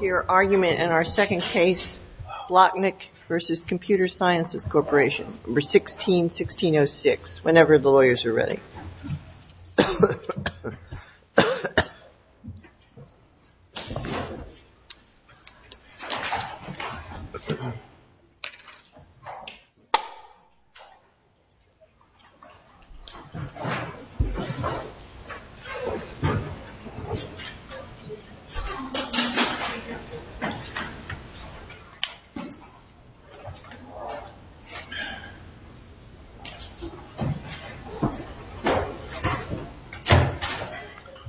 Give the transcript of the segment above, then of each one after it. Your argument in our second case, Plotnick v. Computer Sciences Corporation, 16-1606, whenever the lawyers are ready.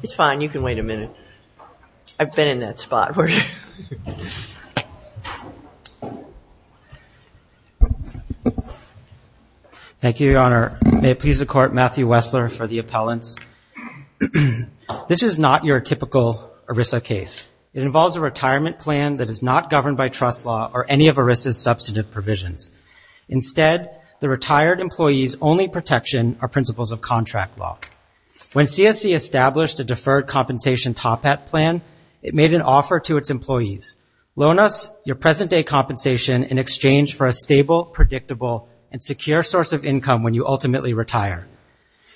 It's fine, you can wait a minute. I've been in that spot. Thank you, Your Honor. May it please the Court, Matthew Wessler for the appellants. This is not your typical ERISA case. It involves a retirement plan that is not governed by trust law or any of ERISA's substantive provisions. Instead, the retired employee's only protection are principles of contract law. When CSC established a deferred compensation top hat plan, it made an offer to its employees. Loan us your present-day compensation in exchange for a stable, predictable, and secure source of income when you ultimately retire.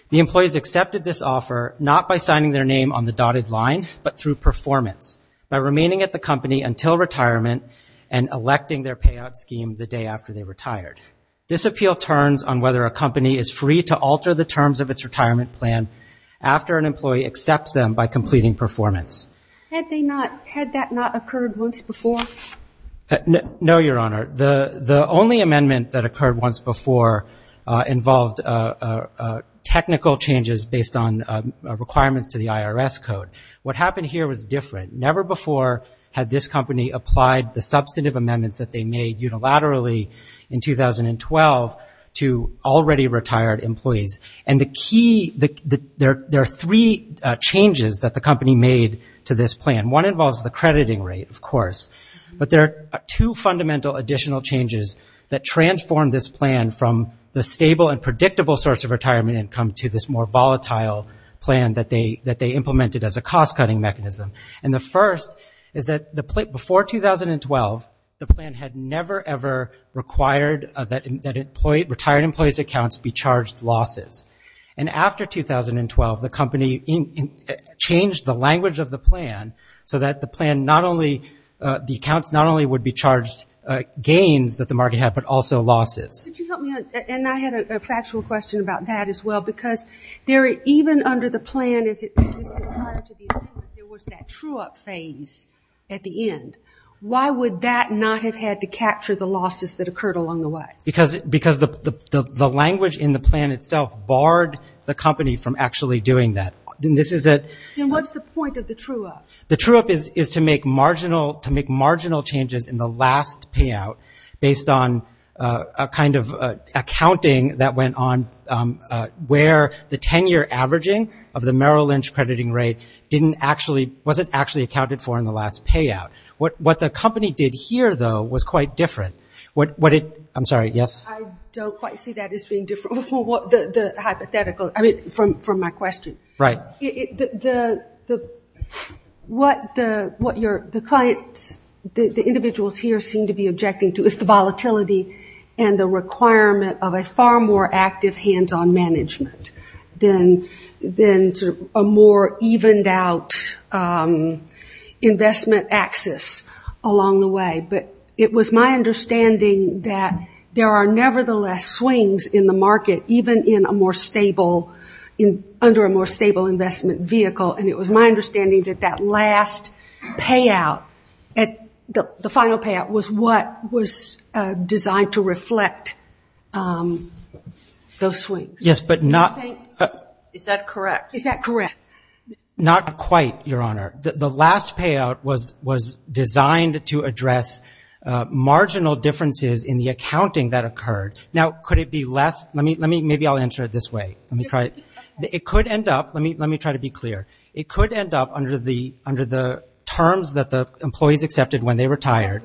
The employees accepted this offer not by signing their name on the dotted line, but through performance, by remaining at the company until retirement and electing their payout scheme the day after they retired. This appeal turns on whether a company is free to alter the terms of its retirement plan after an employee accepts them by completing performance. Had that not occurred once before? No, Your Honor. The only amendment that occurred once before involved technical changes based on requirements to the IRS code. What happened here was different. Never before had this company applied the substantive amendments that they made unilaterally in 2012 to already retired employees. There are three changes that the company made to this plan. One involves the crediting rate, of course, but there are two fundamental additional changes that transformed this plan from the stable and predictable source of retirement income to this more volatile plan that they implemented as a cost-cutting mechanism. The first is that before 2012, the plan had never, ever required that retired employees' accounts be charged losses. After 2012, the company changed the language of the plan so that the accounts not only would be charged gains that the market had, but also losses. And I had a factual question about that as well, because even under the plan, as it existed prior to the agreement, there was that true-up phase at the end. Why would that not have had to capture the losses that occurred along the way? Because the language in the plan itself barred the company from actually doing that. Then what's the point of the true-up? The true-up is to make marginal changes in the last payout based on a kind of accounting that went on where the 10-year averaging of the Merrill Lynch crediting rate wasn't actually accounted for in the last payout. What the company did here, though, was quite different. What the individuals here seem to be objecting to is the volatility and the requirement of a far more active hands-on management than a more evened-out investment axis along the way. But it was my understanding that there are nevertheless swings in the market, even under a more stable investment vehicle, and it was my understanding that the last payout, the final payout, was what was designed to reflect those swings. Is that correct? Not quite, Your Honor. The last payout was designed to address marginal differences in the accounting that occurred. Now, could it be less? Maybe I'll answer it this way. It could end up, let me try to be clear, it could end up under the terms that the employees accepted when they retired,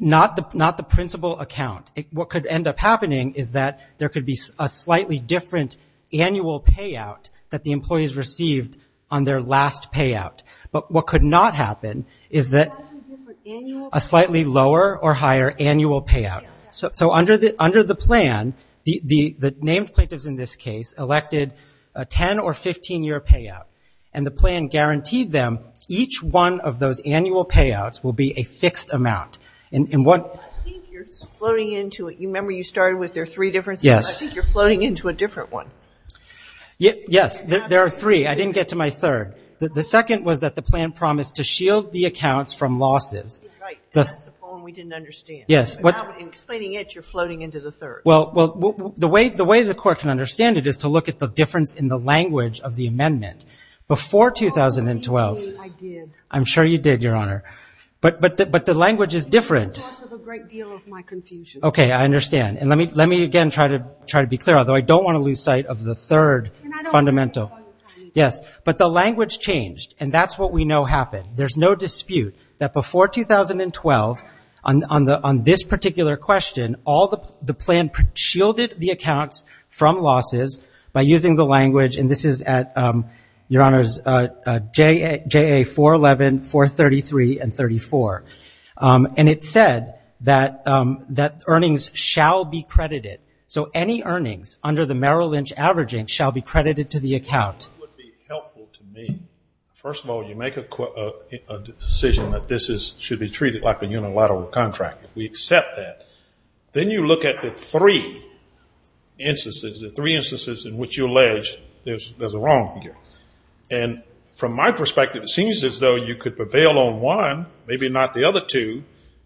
not the principal account. What could end up happening is that there could be a slightly different annual payout that the employees received on their last payout. But what could not happen is that a slightly lower or higher annual payout. So under the plan, the named plaintiffs in this case elected a 10- or 15-year payout, and the plan ended up being a slightly lower or higher annual payout, and guaranteed them each one of those annual payouts will be a fixed amount. I think you're floating into it. You remember you started with there are three different things? Yes. I think you're floating into a different one. Yes, there are three. I didn't get to my third. The second was that the plan promised to shield the accounts from losses. That's the point we didn't understand. In explaining it, you're floating into the third. Well, the way the court can understand it is to look at the difference in the language of the amendment. Before 2012, I'm sure you did, Your Honor, but the language is different. It's the source of a great deal of my confusion. Okay, I understand. And let me again try to be clear, although I don't want to lose sight of the third fundamental. Yes, but the language changed, and that's what we know happened. There's no dispute that before 2012, on this particular question, the plan shielded the accounts from losses by using the language, and this is at, Your Honor, JA-411, 433, and 34. And it said that earnings shall be credited. So any earnings under the Merrill Lynch averaging shall be credited to the account. It would be helpful to me. First of all, you make a decision that this should be treated like a unilateral contract. We accept that. Then you look at the three instances, the three instances in which you allege there's a wrong figure. And from my perspective, it seems as though you could prevail on one, maybe not the other two,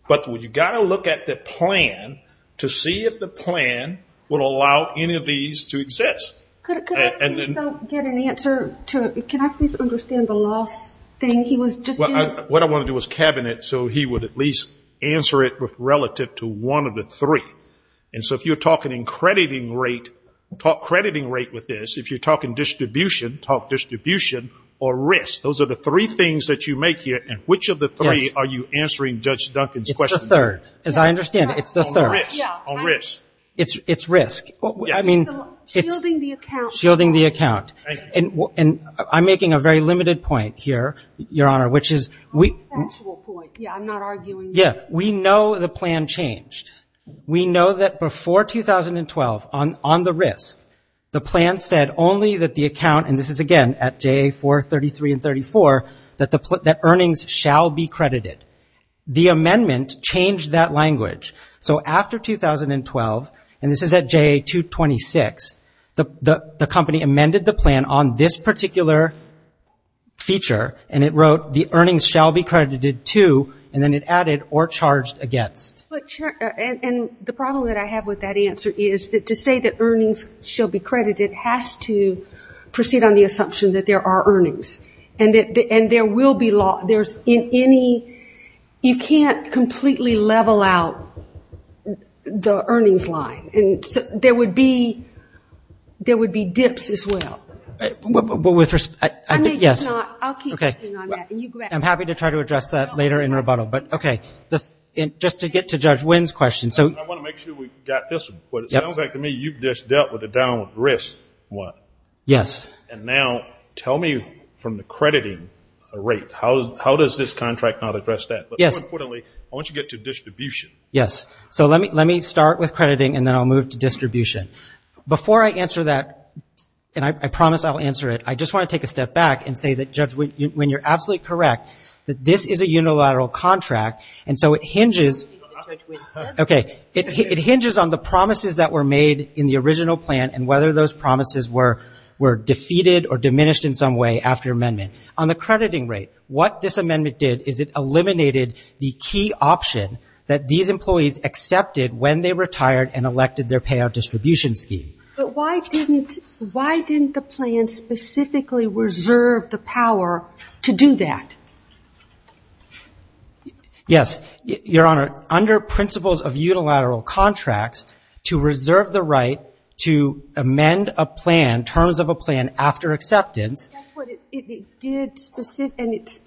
but you've got to look at the plan to see if the plan would allow any of these to exist. Could I please understand the loss thing? What I want to do is cabinet so he would at least answer it relative to one of the three. And so if you're talking in crediting rate, talk crediting rate with this. If you're talking distribution, talk distribution or risk. Those are the three things that you make here, and which of the three are you answering Judge Duncan's question? It's the third. As I understand it, it's the third. It's risk. I mean, it's shielding the account. And I'm making a very limited point here, Your Honor, which is we know the plan changed. We know that before 2012, on the risk, the plan said only that the account, and this is again at JA-433 and 341, that earnings shall be credited. The amendment changed that language. So after 2012, and this is at JA-226, the company amended the plan on this particular feature, and it wrote the earnings shall be credited to, and then it added or charged against. And the problem that I have with that answer is that to say that earnings shall be credited has to proceed on the assumption that there are earnings. You can't completely level out the earnings line. There would be dips as well. I'm happy to try to address that later in rebuttal. I want to make sure we got this one. But it sounds like to me you've just dealt with the down risk one. And now tell me from the crediting rate, how does this contract not address that? But more importantly, I want you to get to distribution. Yes. So let me start with crediting, and then I'll move to distribution. Before I answer that, and I promise I'll answer it, I just want to take a step back and say that, Judge, when you're absolutely correct, that this is a unilateral contract, and so it hinges on the promises that were made in the original plan and whether those promises were defeated or diminished in some way after amendment. On the crediting rate, what this amendment did is it eliminated the key option that these employees accepted when they retired and elected their payout distribution scheme. But why didn't the plan specifically reserve the power to do that? Yes. Your Honor, under principles of unilateral contracts, to reserve the right to amend a plan, terms of a plan, after acceptance. That's what it did, and it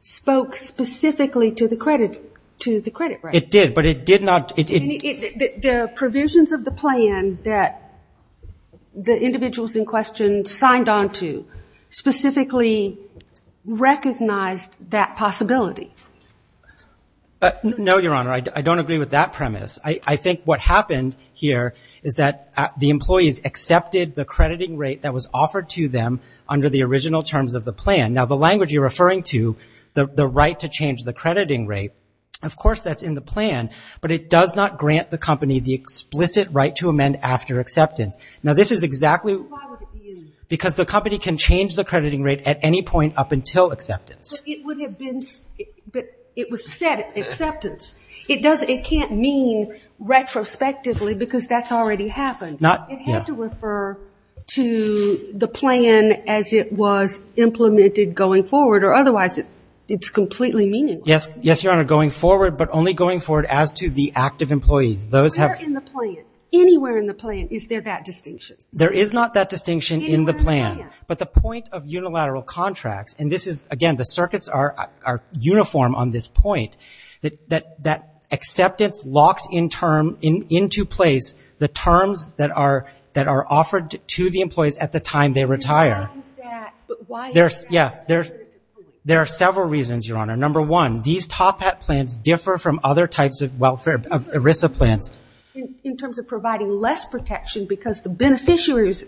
spoke specifically to the credit rate. It did, but it did not... The provisions of the plan that the individuals in question signed on to specifically recognized that possibility. No, Your Honor, I don't agree with that premise. I think what happened here is that the employees accepted the crediting rate that was offered to them under the original terms of the plan. Now, the language you're referring to, the right to change the crediting rate, of course that's in the plan, but it does not grant the company the explicit right to amend after acceptance. Now, this is exactly... Because the company can change the crediting rate at any point up until acceptance. But it was set at acceptance. It can't mean retrospectively, because that's already happened. It had to refer to the plan as it was implemented going forward, or otherwise it's completely meaningless. Yes, Your Honor, going forward, but only going forward as to the active employees. Where in the plan, anywhere in the plan, is there that distinction? There is not that distinction in the plan. But the point of unilateral contracts, and again, the circuits are uniform on this point, that acceptance locks into place the terms that are offered to the employees at the time they retire. Number one, these top hat plans differ from other types of welfare, of ERISA plans. In terms of providing less protection, because the beneficiaries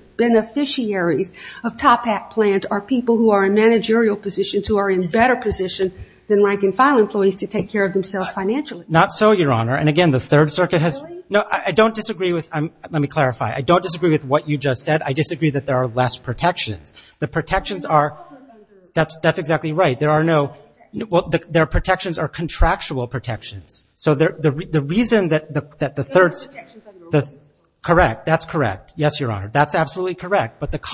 of top hat plans are people who are in managerial positions, who are in better position than rank and file employees to take care of themselves financially. Not so, Your Honor. And again, the Third Circuit has... No, I don't disagree with... Let me clarify. I don't disagree with what you just said. I disagree that there are less protections. The protections are... That's exactly right. There are no... Well, their protections are contractual protections. So the reason that the Third... Correct. That's correct. Yes, Your Honor. That's absolutely correct. But that's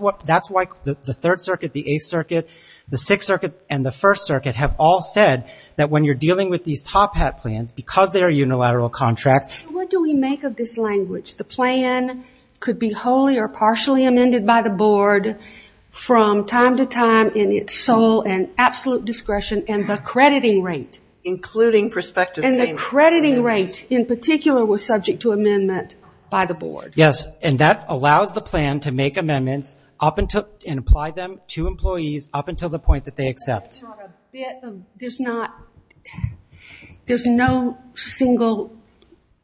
why the Third Circuit, the Eighth Circuit, the Sixth Circuit, and the First Circuit have all said that when you're dealing with these top hat plans, because they are unilateral contracts... What do we make of this language? The plan could be wholly or partially amended by the board from time to time in its sole and absolute discretion, and the crediting rate... Including prospective payment. And the crediting rate in particular was subject to amendment by the board. Yes, and that allows the plan to make amendments and apply them to employees up until the point that they accept. There's no single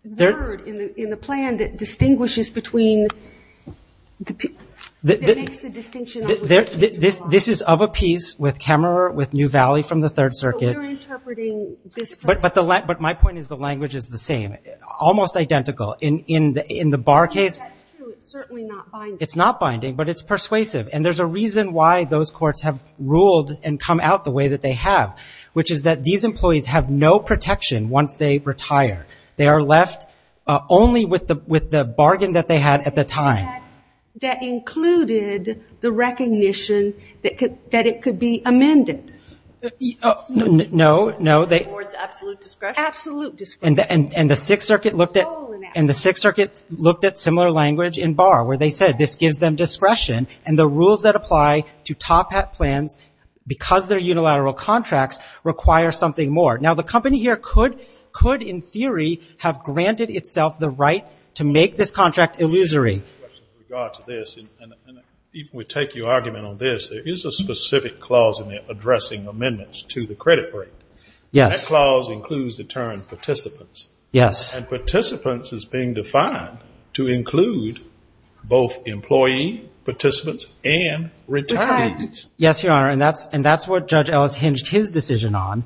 word in the plan that distinguishes between... This is of a piece with Kemmerer, with New Valley from the Third Circuit. But my point is the language is the same, almost identical. In the Barr case, it's not binding, but it's persuasive. And there's a reason why those courts have ruled and come out the way that they have, which is that these employees have no protection once they retire. They are left only with the bargain that they had at the time. That included the recognition that it could be amended. No. And the Sixth Circuit looked at similar language in Barr, where they said this gives them discretion, and the rules that apply to top-hat plans, because they're unilateral contracts, require something more. Now, the company here could, in theory, have granted itself the right to make this contract illusory. And even if we take your argument on this, there is a specific clause in there addressing amendments to the credit rate. And that clause includes the term participants. And participants is being defined to include both employee participants and returnees. Yes, Your Honor, and that's what Judge Ellis hinged his decision on.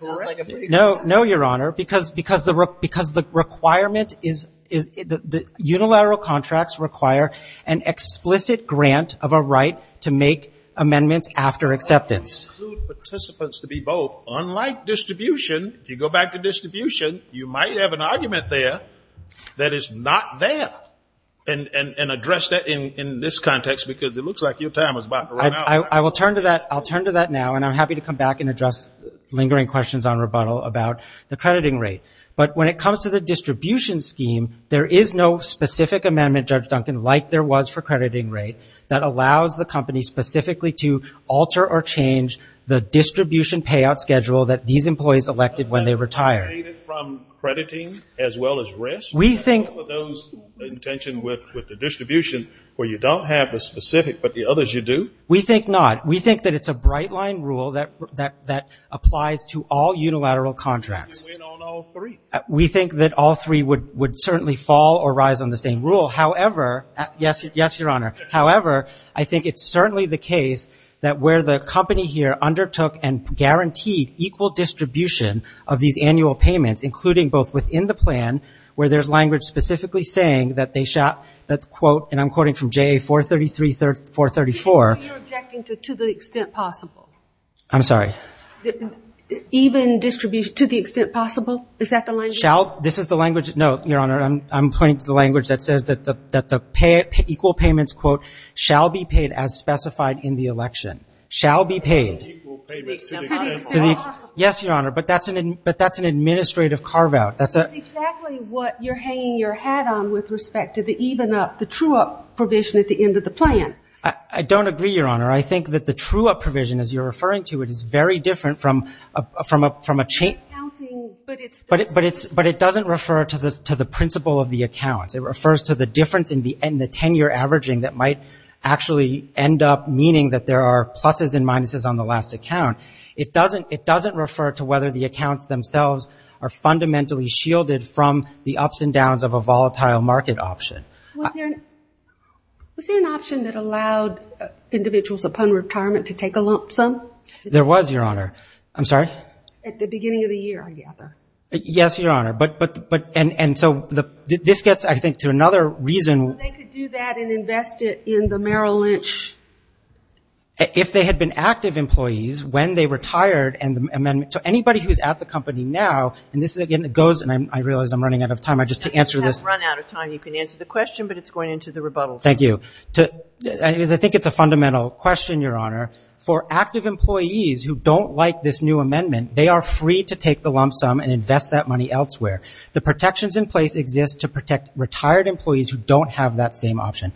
No, Your Honor, because the requirement is, unilateral contracts require an explicit grant of a right to make amendments after acceptance. Unlike distribution, if you go back to distribution, you might have an argument there that is not there, and address that in this context, because it looks like your time is about to run out. I'll turn to that now, and I'm happy to come back and address lingering questions on rebuttal about the crediting rate. But when it comes to the distribution scheme, there is no specific amendment, Judge Duncan, like there was for crediting rate, that allows the company specifically to alter or change the distribution payout schedule that these employees elected when they retired. We think not. We think that it's a bright line rule that applies to all unilateral contracts. We think that all three would certainly fall or rise on the same rule. Yes, Your Honor. However, I think it's certainly the case that where the company here undertook and guaranteed equal distribution of these annual payments, including both within the plan, where there's language specifically saying that they, quote, and I'm quoting from J.A. 433, 434. Even distribution, to the extent possible? Is that the language? No, Your Honor, I'm pointing to the language that says that the equal payments, quote, shall be paid as specified in the election, shall be paid. Yes, Your Honor, but that's an administrative carve out. That's exactly what you're hanging your hat on with respect to the even up, the true up provision at the end of the plan. I don't agree, Your Honor. I think that the true up provision, as you're referring to it, is very different from a chain. But it doesn't refer to the principle of the accounts. It refers to the difference in the tenure averaging that might actually end up meaning that there are pluses and minuses on the last account. It doesn't refer to whether the accounts themselves are fundamentally shielded from the ups and downs of a volatile market option. Was there an option that allowed individuals upon retirement to take a lump sum? There was, Your Honor. I'm sorry? At the beginning of the year, I gather. Yes, Your Honor, but, and so this gets, I think, to another reason. They could do that and invest it in the Merrill Lynch. If they had been active employees when they retired and the amendment, so anybody who's at the company now, and this is, again, it goes, and I realize I'm running out of time, just to answer this. You have run out of time. You can answer the question, but it's going into the rebuttal. Thank you. I think it's a fundamental question, Your Honor. For active employees who don't like this new amendment, they are free to take the lump sum and invest that money elsewhere. The protections in place exist to protect retired employees who don't have that same option.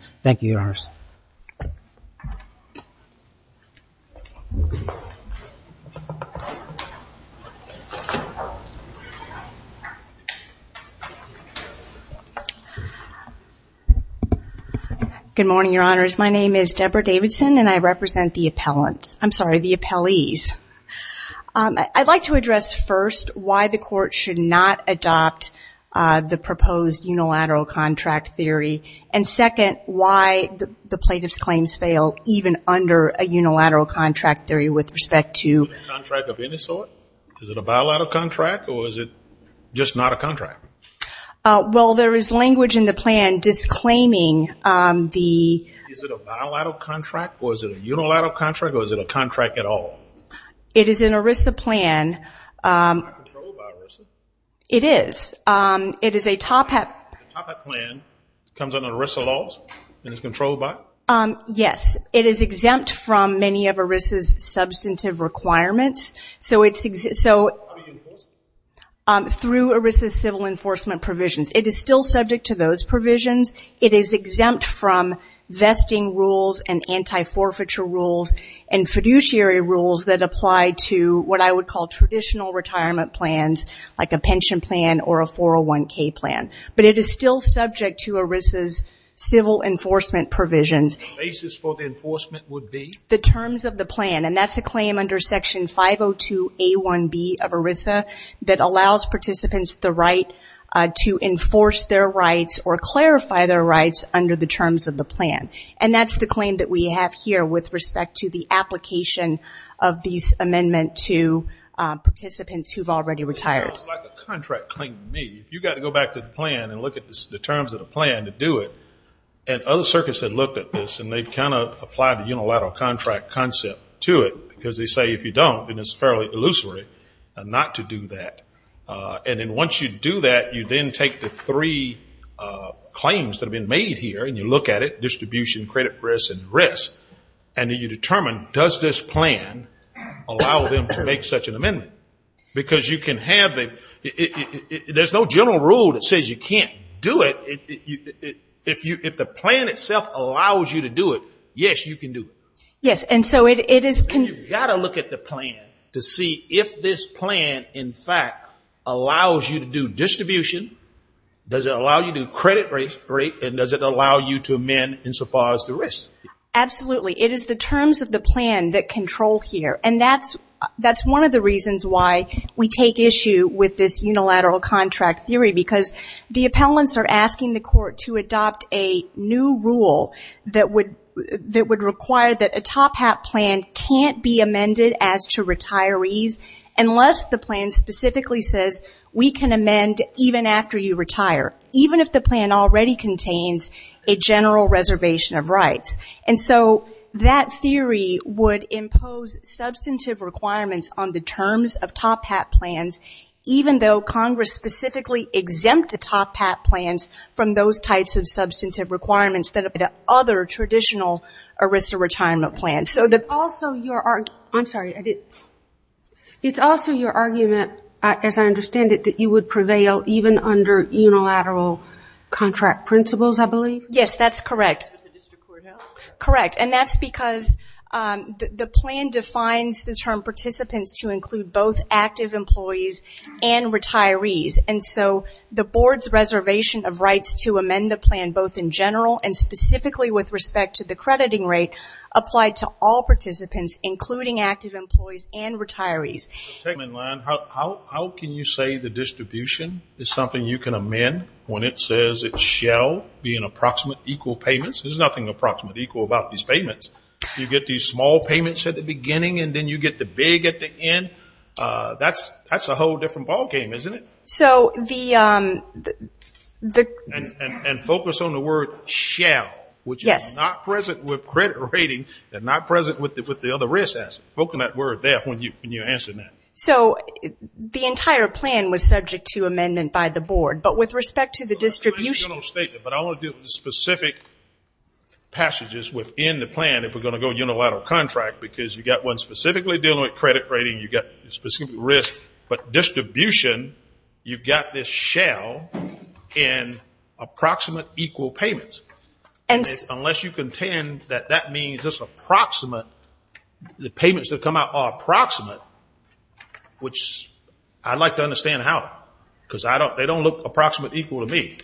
Good morning, Your Honors. My name is Deborah Davidson, and I represent the appellants. I'm sorry, the appellees. I'd like to address, first, why the court should not adopt the proposed unilateral contract theory, and second, why the plaintiff's claims fail, even under a unilateral contract theory with respect to Is it a contract of any sort? Is it a bilateral contract, or is it just not a contract? Well, there is language in the plan disclaiming the Is it a bilateral contract, or is it a unilateral contract, or is it a contract at all? It is an ERISA plan. It's not controlled by ERISA? It is. It is a TOPEP plan. It comes under ERISA laws and is controlled by? Yes. It is exempt from many of ERISA's substantive requirements. How do you enforce it? Through ERISA's civil enforcement provisions. It is still subject to those provisions. It is exempt from vesting rules and anti-forfeiture rules and fiduciary rules that apply to what I would call traditional retirement plans, like a pension plan or a 401k plan. But it is still subject to ERISA's civil enforcement provisions. The basis for the enforcement would be? The terms of the plan. And that's a claim under Section 502A1B of ERISA that allows participants the right to enforce their rights or clarify their rights under the terms of the plan. And that's the claim that we have here with respect to the application of these amendments to participants who have already retired. It's almost like a contract claim to me. You've got to go back to the plan and look at the terms of the plan to do it. And other circuits have looked at this and they've kind of applied the unilateral contract concept to it because they say if you don't, then it's fairly illusory not to do that. And then once you do that, you then take the three claims that have been made here and you look at it, distribution, credit risk and risk, and then you determine, does this plan allow them to make such an amendment? Because there's no general rule that says you can't do it. If the plan itself allows you to do it, yes, you can do it. You've got to look at the plan to see if this plan, in fact, allows you to do distribution, does it allow you to do credit risk, and does it allow you to amend insofar as the risk? Absolutely. It is the terms of the plan that control here. And that's one of the reasons why we take issue with this unilateral contract theory, because the appellants are asking the court to adopt a new rule that would require that a top hat plan can't be amended as to retirees unless the plan specifically says, we can amend even after you retire, even if the plan already contains a general reservation of rights. And so that theory would impose substantive requirements on the terms of top hat plans, even though Congress specifically exempted top hat plans from those types of substantive requirements that other traditional ERISA retirement plans. It's also your argument, as I understand it, that you would prevail even under unilateral contract principles, I believe? Yes, that's correct. And that's because the plan defines the term participants to include both active employees and retirees. And so the board's reservation of rights to amend the plan both in general and specifically with respect to the crediting rate applied to all participants, including active employees and retirees. How can you say the distribution is something you can amend when it says it shall be in approximate equal payments? There's nothing approximate equal about these payments. You get these small payments at the beginning, and then you get the big at the end. That's a whole different ball game, isn't it? And focus on the word shall, which is not present with credit rating and not present with the other risks. Focus on that word there when you answer that. So the entire plan was subject to amendment by the board, but with respect to the distribution. But I want to deal with the specific passages within the plan if we're going to go unilateral contract, because you've got one specifically dealing with credit rating, you've got a specific risk. But distribution, you've got this shall in approximate equal payments. Unless you contend that that means the payments that come out are approximate, which I'd like to understand how, because they don't look approximate equal to me.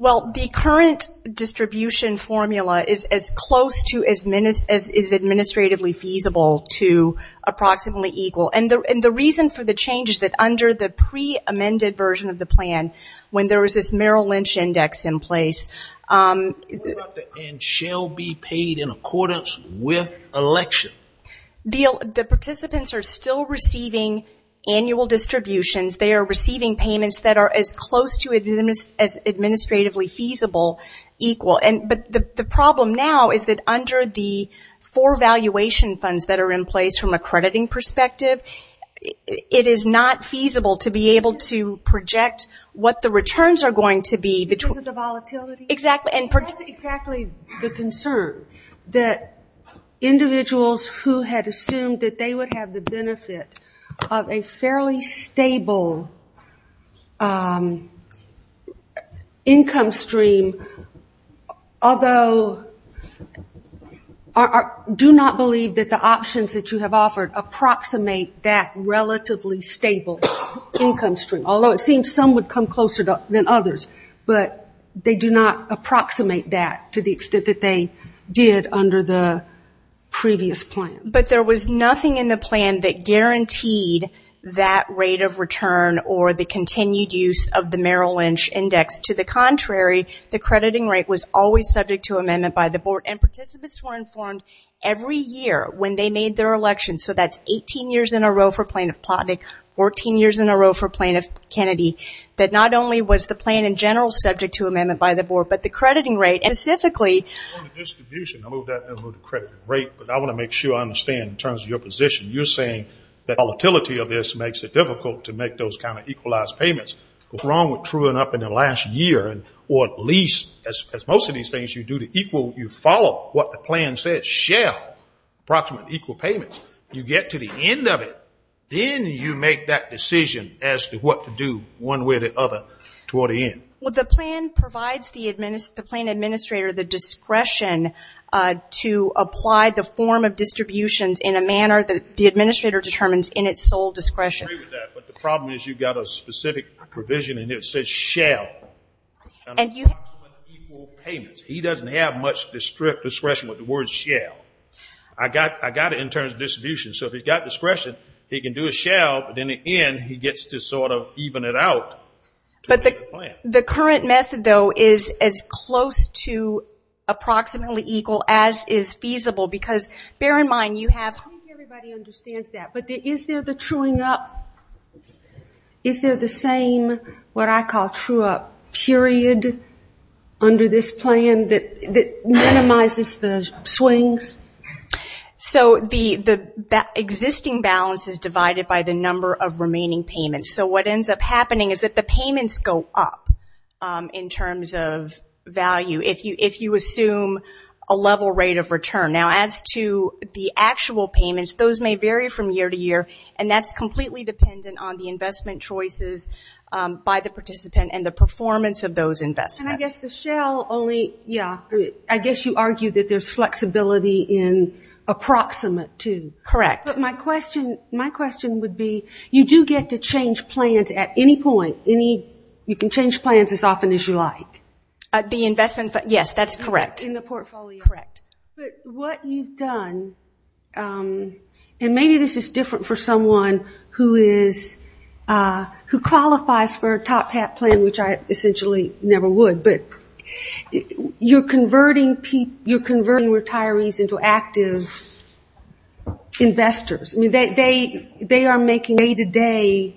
Well, the current distribution formula is as close to as administratively feasible. And the reason for the change is that under the pre-amended version of the plan, when there was this Merrill Lynch index in place. What about the and shall be paid in accordance with election? The participants are still receiving annual distributions. They are receiving payments that are as close to as administratively feasible equal. But the problem now is that under the four valuation funds that are in place from accrediting perspective, it is not feasible to be able to project what the returns are going to be. Is it the volatility? That's exactly the concern, that individuals who had assumed that they would have the benefit of a fairly stable income stream although do not believe that the options that you have offered approximate that relatively stable income stream. Although it seems some would come closer than others, but they do not approximate that to the extent that they did under the previous plan. But there was nothing in the plan that guaranteed that rate of return or the continued use of the Merrill Lynch index. To the contrary, the crediting rate was always subject to amendment by the board. And participants were informed every year when they made their election, so that's 18 years in a row for Plaintiff Plotnick, 14 years in a row for Plaintiff Kennedy, that not only was the plan in general subject to amendment by the board, but the crediting rate specifically. I want to make sure I understand in terms of your position. You're saying that volatility of this makes it difficult to make those kind of equalized payments. What's wrong with truing up in the last year, or at least as most of these things you do, you follow what the plan says, share approximate equal payments. You get to the end of it, then you make that decision as to what to do one way or the other toward the end. Well, the plan provides the plan administrator the discretion to apply the form of distributions in a manner that the administrator determines in its sole discretion. He doesn't have much discretion with the word shall. I got it in terms of distribution, so if he's got discretion, he can do a shall, but in the end he gets to sort of even it out. But the current method, though, is as close to approximately equal as is feasible, because bear in mind you have... Is there the same what I call true up period under this plan that minimizes the swings? The existing balance is divided by the number of remaining payments, so what ends up happening is that the payments go up in terms of value, if you assume a level rate of return. Now, as to the actual payments, those may vary from year to year, and that's completely dependent on the investment choices by the participant and the performance of those investments. And I guess the shall only, yeah, I guess you argue that there's flexibility in approximate too. Correct. But my question would be, you do get to change plans at any point. You can change plans as often as you like. Yes, that's correct. But what you've done, and maybe this is different for someone who qualifies for a top hat plan, which I essentially never would, but you're converting retirees into active investors. They are making day-to-day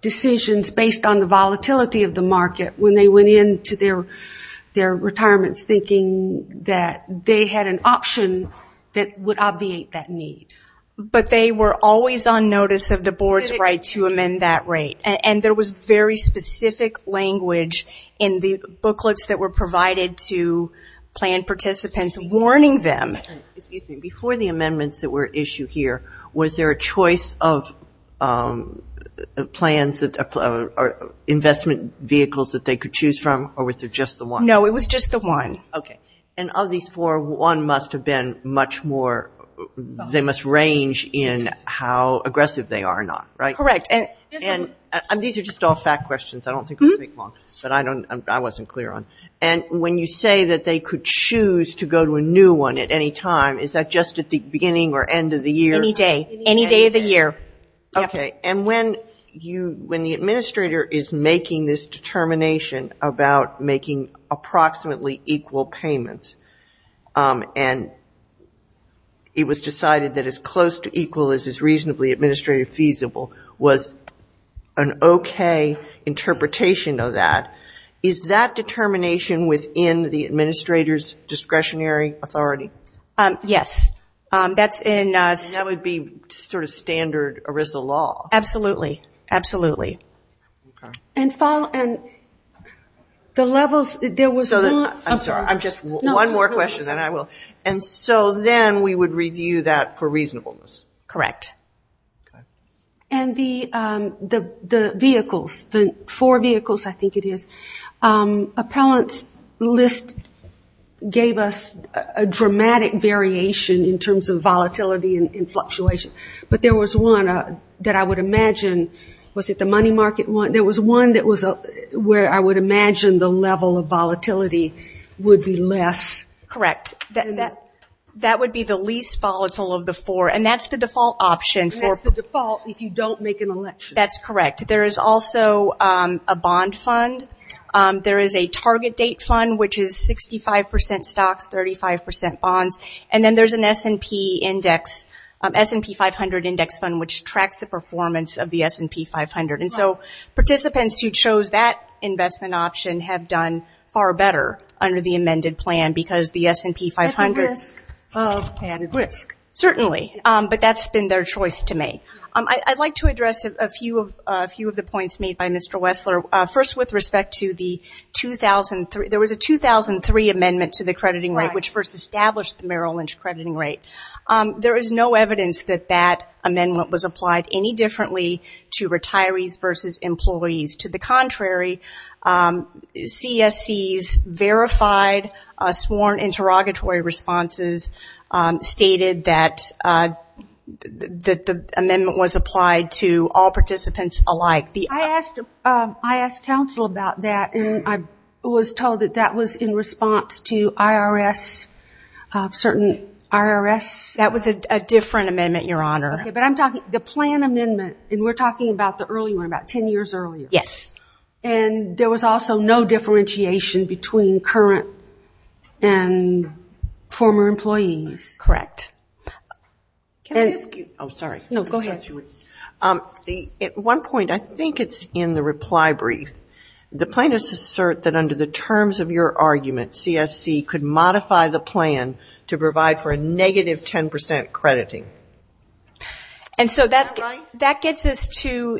decisions based on the volatility of the market when they went into their retirements thinking that they had an option that would obviate that need. But they were always on notice of the board's right to amend that rate, and there was very specific language in the booklets that were provided to plan participants warning them. Before the amendments that were issued here, was there a choice of plans, investment vehicles that they could choose from, or was there just the one? No, it was just the one. Okay. And of these four, one must have been much more, they must range in how aggressive they are or not, right? Correct. And these are just all fact questions. I don't think we'll take long, but I wasn't clear on this. And when you say that they could choose to go to a new one at any time, is that just at the beginning or end of the year? Any day. Any day of the year. Okay. And when the administrator is making this determination about making approximately equal payments and it was decided that as close to equal as is reasonably administrative feasible, was an okay interpretation of that, is that determination within the administrator's discretionary authority? Yes. And that would be sort of standard ERISA law. Absolutely. Absolutely. And so then we would review that for reasonableness. Correct. And the vehicles, the four vehicles I think it is. Appellant's list gave us a dramatic variation in terms of volatility and fluctuation, but there was one that I would imagine, was it the money market one? There was one where I would imagine the level of volatility would be less. Correct. And that's the default if you don't make an election. That's correct. There is also a bond fund. There is a target date fund, which is 65 percent stocks, 35 percent bonds. And then there's an S&P 500 index fund, which tracks the performance of the S&P 500. And so participants who chose that investment option have done far better under the amended plan, because the S&P 500. Certainly. But that's been their choice to make. I'd like to address a few of the points made by Mr. Wessler. First, with respect to the 2003, there was a 2003 amendment to the crediting rate, which first established the Merrill Lynch crediting rate. There is no evidence that that amendment was applied any differently to retirees versus employees. To the contrary, CSC's verified sworn interrogatory responses stated that the amendment was applied to all participants alike. I asked counsel about that, and I was told that that was in response to IRS, certain IRS. That was a different amendment, Your Honor. But I'm talking, the plan amendment, and we're talking about the early one, about 10 years earlier. Yes. And there was also no differentiation between current and former employees. Correct. At one point, I think it's in the reply brief, the plaintiffs assert that under the terms of your argument, CSC could modify the plan to provide for a negative 10% crediting. And so that gets us to,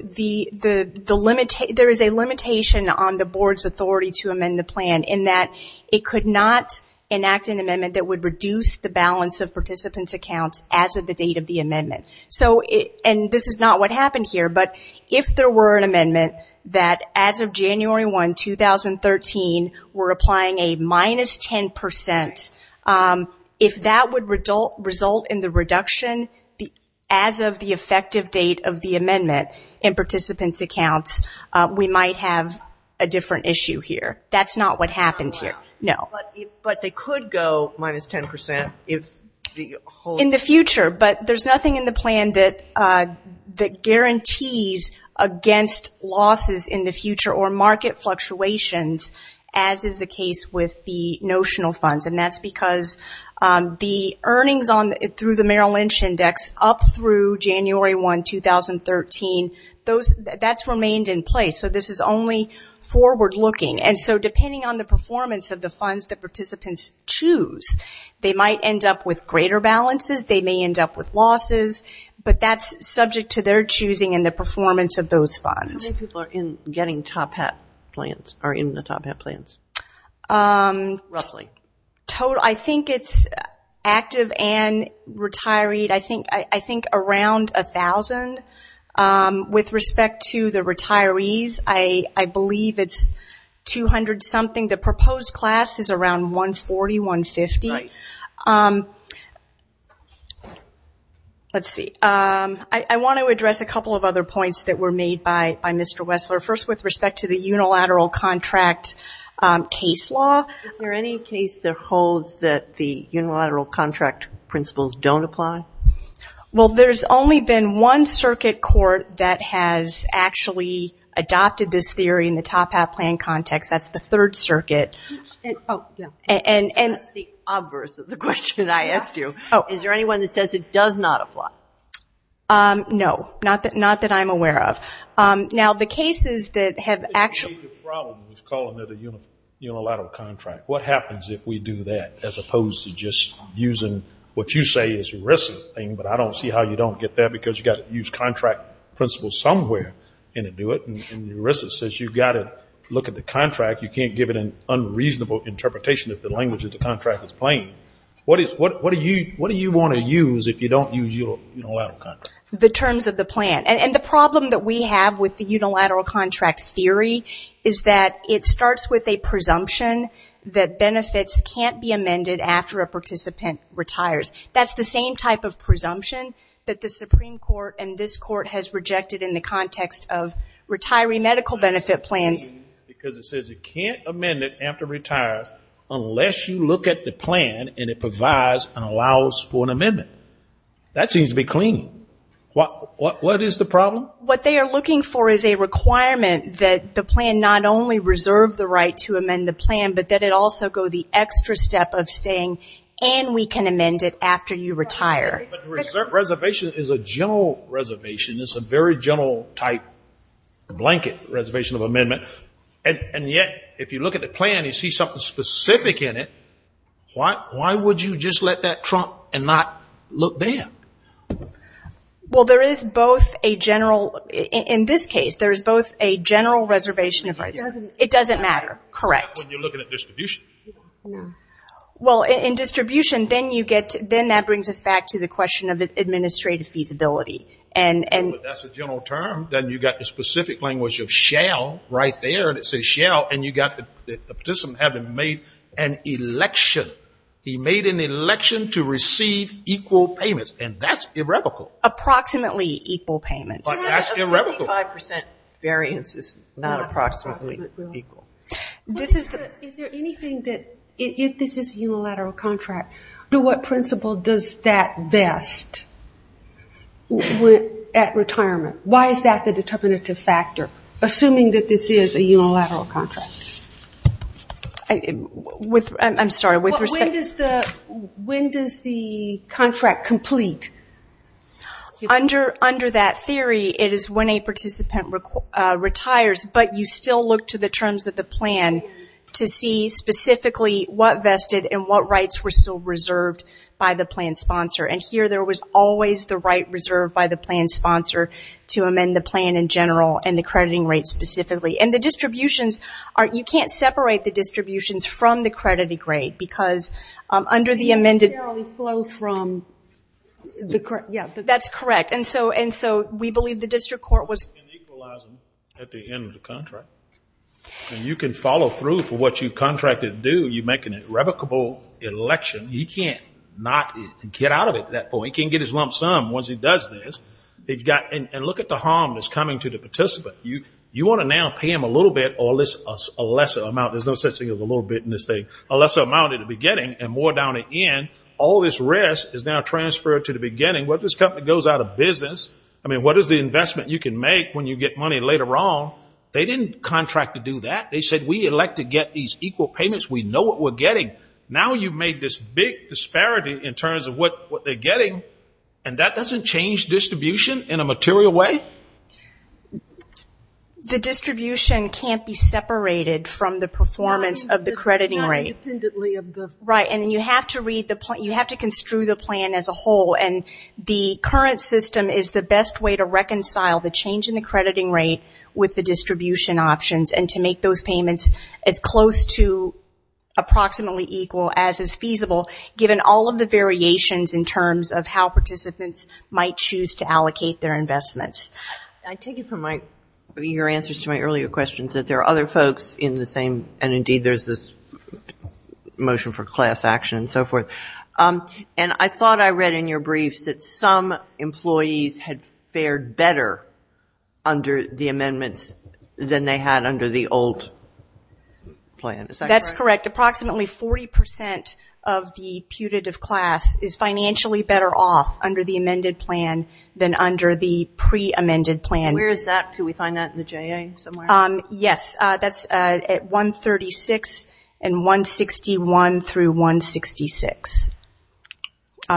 there is a limitation on the board's authority to amend the plan, in that it could not enact an amendment that would reduce the balance of participants' accounts as of the date of the amendment. And this is not what happened here, but if there were an amendment that, as of January 1, 2013, we're applying a minus 10%, if that would result in the reduction as of the effective date of the amendment in participants' accounts, we might have a different issue here. That's not what happened here. No. But they could go minus 10% if the whole. In the future, but there's nothing in the plan that guarantees against losses in the future or market fluctuations, as is the case with the notional funds. And that's because the earnings through the Merrill Lynch Index up through January 1, 2013, that's remained in place. So this is only forward-looking. And so depending on the performance of the funds that participants choose, they might end up with greater balances, they may end up with losses, but that's subject to their choosing and the performance of those funds. How many people are in the Top Hat plans? Roughly. I think it's active and retiree, I think around 1,000. With respect to the retirees, I believe it's 200-something. The proposed class is around 140, 150. Let's see. I want to address a couple of other points that were made by Mr. Wessler. First, with respect to the unilateral contract case law. Is there any case that holds that the unilateral contract principles don't apply? Well, there's only been one circuit court that has actually adopted this theory in the Top Hat plan context. That's the Third Circuit. That's the obverse of the question I asked you. Is there anyone that says it does not apply? No, not that I'm aware of. The problem with calling it a unilateral contract, what happens if we do that as opposed to just using what you say is ERISA, but I don't see how you don't get that, because you've got to use contract principles somewhere. ERISA says you've got to look at the contract. You can't give it an unreasonable interpretation if the language of the contract is plain. What do you want to use if you don't use your unilateral contract? The terms of the plan. And the problem that we have with the unilateral contract theory is that it starts with a presumption that benefits can't be amended after a participant retires. That's the same type of presumption that the Supreme Court and this court has rejected in the context of retiree medical benefit plans. Because it says you can't amend it after it retires unless you look at the plan and it provides and allows for an amendment. That seems to be clean. What is the problem? What they are looking for is a requirement that the plan not only reserve the right to amend the plan, but that it also go the extra step of staying and we can amend it after you retire. Reservation is a general reservation. It's a very general type blanket reservation of amendment. And yet if you look at the plan and you see something specific in it, why would you just let that trump and not look there? Well, there is both a general, in this case, there is both a general reservation. It doesn't matter. Correct. Well, in distribution, then that brings us back to the question of administrative feasibility. That's a general term. Then you have the specific language of shall right there and it says shall and you have the participant having made an election. He made an election to receive equal payments and that's irrevocable. Approximately equal payments. But that's irrevocable. Is there anything that, if this is a unilateral contract, what principle does that vest at retirement? Why is that the determinative factor, assuming that this is a unilateral contract? I'm sorry. When does the contract complete? Under that theory, it is when a participant retires. But you still look to the terms of the plan to see specifically what vested and what rights were still reserved by the plan sponsor. And here there was always the right reserved by the plan sponsor to amend the plan in general and the crediting rate specifically. And the distributions, you can't separate the distributions from the crediting rate. Because under the amended. That's correct. And you can follow through for what you contracted to do. You make an irrevocable election. He can't get out of it at that point. He can't get his lump sum once he does this. And look at the harm that's coming to the participant. You want to now pay him a little bit or a lesser amount. There's no such thing as a little bit in this thing. A lesser amount at the beginning and more down at the end. All this risk is now transferred to the beginning. What if this company goes out of business? What is the investment you can make when you get money later on? They didn't contract to do that. They said we elect to get these equal payments. We know what we're getting. Now you've made this big disparity in terms of what they're getting. And that doesn't change distribution in a material way? The distribution can't be separated from the performance of the crediting rate. You have to construe the plan as a whole. The current system is the best way to reconcile the change in the crediting rate with the distribution options. And to make those payments as close to approximately equal as is feasible, given all of the variations in terms of how participants might choose to allocate their investments. I take it from your answers to my earlier questions that there are other folks in the same, and indeed there's this motion for class action and so forth. And I thought I read in your briefs that some employees had fared better under the amendments than they had under the old plan. Is that correct? That's correct. Approximately 40% of the putative class is financially better off under the amended plan than under the pre-amended plan. Where is that? Could we find that in the JA somewhere? Yes, that's at 136 and 161 through 166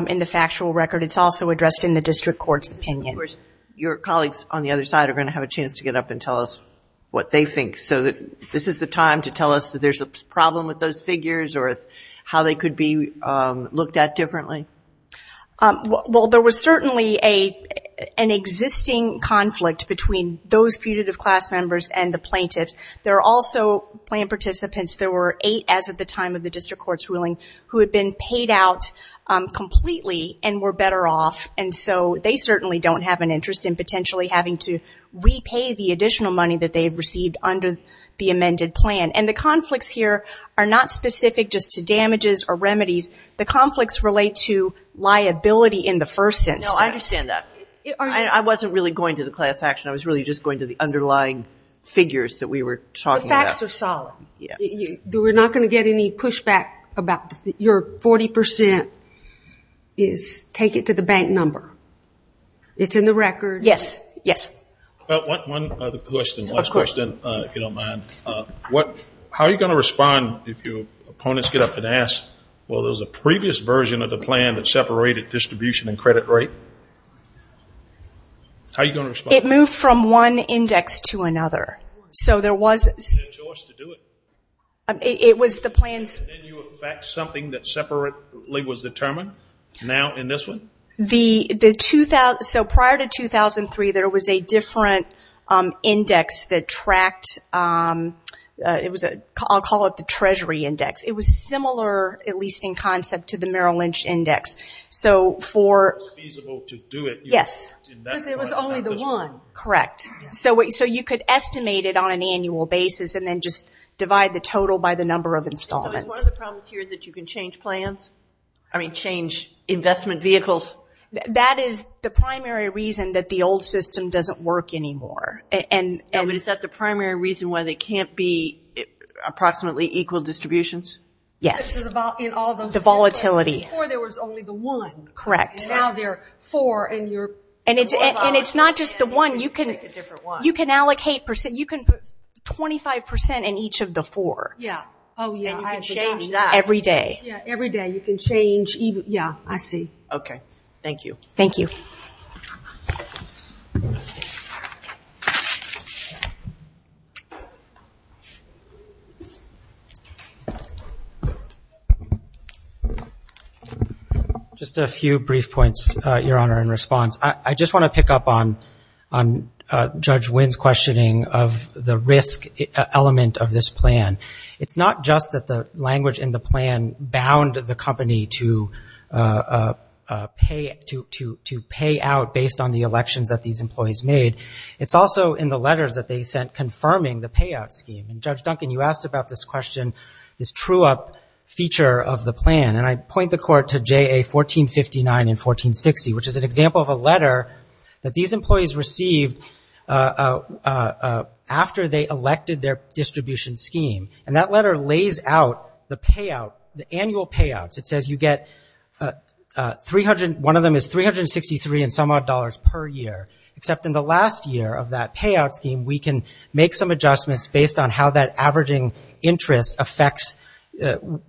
in the factual record. It's also addressed in the district court's opinion. Your colleagues on the other side are going to have a chance to get up and tell us what they think. So this is the time to tell us if there's a problem with those figures or how they could be looked at differently. Well, there was certainly an existing conflict between those putative class members and the plaintiffs. There are also plan participants, there were eight as of the time of the district court's ruling, who had been paid out completely and were better off. And so they certainly don't have an interest in potentially having to repay the additional money that they have received under the amended plan. And the conflicts here are not specific just to damages or remedies. The conflicts relate to liability in the first instance. No, I understand that. I wasn't really going to the class action. I was really just going to the underlying figures that we were talking about. We're not going to get any pushback about your 40% is take it to the bank number. It's in the record. Yes. How are you going to respond if your opponents get up and ask, well, there's a previous version of the plan that separated distribution and credit rate? How are you going to respond? It moved from one index to another. So prior to 2003 there was a different index that tracked, I'll call it the treasury index. It was similar, at least in concept, to the Merrill Lynch index. Yes. Because there was only the one. Correct. So you could estimate it on an annual basis and then just divide the total by the number of installments. So is one of the problems here that you can change plans? I mean, change investment vehicles? That is the primary reason that the old system doesn't work anymore. No, but is that the primary reason why they can't be approximately equal distributions? Yes, the volatility. Before there was only the one. Correct. And now there are four. And it's not just the one. You can allocate 25% in each of the four. And you can change that every day. Okay. Thank you. Just a few brief points, Your Honor, in response. I just want to pick up on Judge Wynn's questioning of the risk element of this plan. It's not just that the language in the plan bound the company to pay for the insurance to pay out based on the elections that these employees made. It's also in the letters that they sent confirming the payout scheme. And Judge Duncan, you asked about this question, this true-up feature of the plan. And I point the Court to JA 1459 and 1460, which is an example of a letter that these employees received after they elected their distribution scheme. And that letter lays out the payout, the annual payouts. It says you get, one of them is $363 and some odd dollars per year. Except in the last year of that payout scheme, we can make some adjustments based on how that averaging interest affects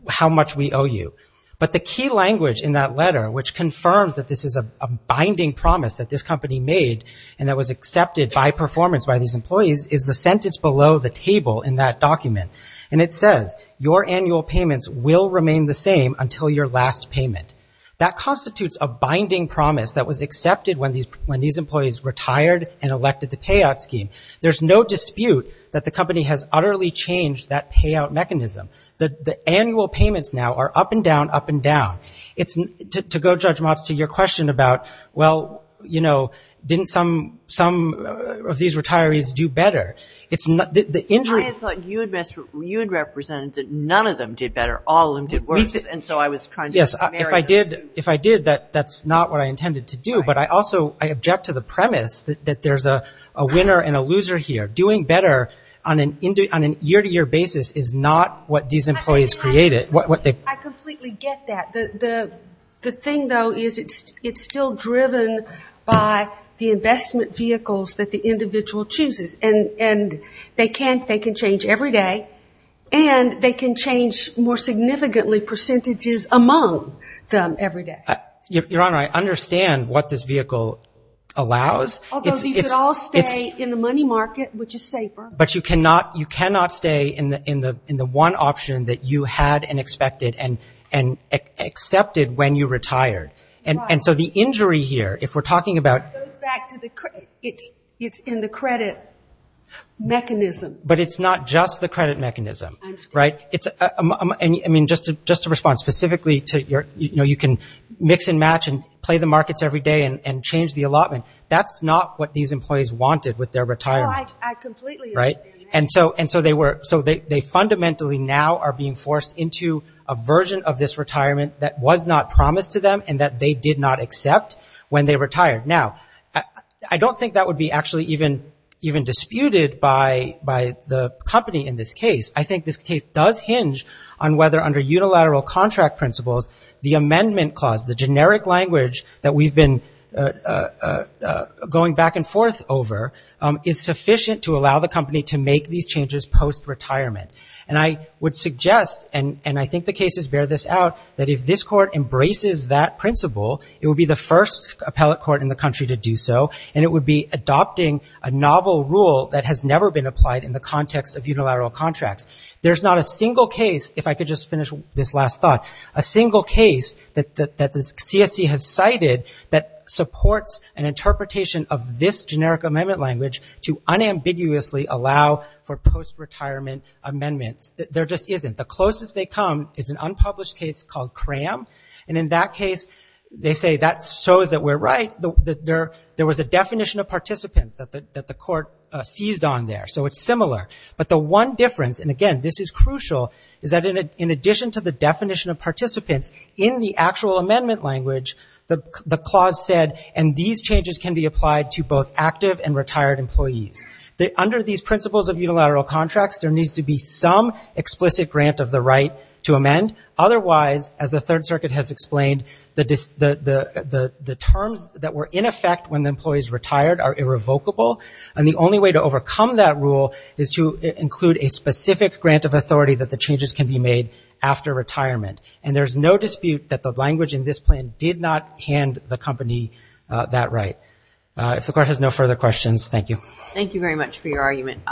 how much we owe you. But the key language in that letter, which confirms that this is a binding promise that this company made and that was accepted by performance by these employees, is the sentence below the table in that document. And it says your annual payments will remain the same until your last payment. That constitutes a binding promise that was accepted when these employees retired and elected the payout scheme. There's no dispute that the company has utterly changed that payout mechanism. The annual payments now are up and down, up and down. To go, Judge Motz, to your question about, well, you know, didn't some of these retirees do better? I thought you had represented that none of them did better, all of them did worse. And so I was trying to marry that. If I did, that's not what I intended to do. But I also, I object to the premise that there's a winner and a loser here. Doing better on a year-to-year basis is not what these employees created. I completely get that. The thing, though, is it's still driven by the investment vehicles that the individual chooses. And they can change every day. And they can change more significantly percentages among them every day. Your Honor, I understand what this vehicle allows. Although they could all stay in the money market, which is safer. But you cannot stay in the one option that you had and expected and accepted when you retired. And so the injury here, if we're talking about. It's in the credit mechanism. But it's not just the credit mechanism, right? I mean, just to respond specifically to your, you know, you can mix and match and play the markets every day and change the allotment. That's not what these employees wanted with their retirement. No, I completely agree. And so they fundamentally now are being forced into a version of this retirement that was not promised to them and that they did not accept when they retired. Now, I don't think that would be actually even disputed by the company in this case. I think this case does hinge on whether under unilateral contract principles, the amendment clause, the generic language that we've been going back and forth over, is sufficient to allow the company to make these changes post-retirement. And I would suggest, and I think the cases bear this out, that if this court embraces that principle, it would be the first appellate court in the country to do so, and it would be adopting a novel rule that has never been applied in the context of unilateral contracts. There's not a single case, if I could just finish this last thought, a single case that the CSE has cited that supports an interpretation of this generic amendment language to unambiguously allow for post-retirement amendments. There just isn't. The closest they come is an unpublished case called CRAM, and in that case, they say, that shows that we're right, that there was a definition of participants that the court seized on there. So it's similar, but the one difference, and again, this is crucial, is that in addition to the definition of participants, in the actual amendment language, the clause said, and these changes can be applied to both active and retired employees. Under these principles of unilateral contracts, there needs to be some explicit grant of the right to amend. Otherwise, as the Third Circuit has explained, the terms that were in effect when the employees retired are irrevocable, and the only way to overcome that rule is to include a specific grant of authority that the changes can be made after retirement. And there's no dispute that the language in this plan did not hand the company that right. If the Court has no further questions, thank you. Thank you very much for your argument.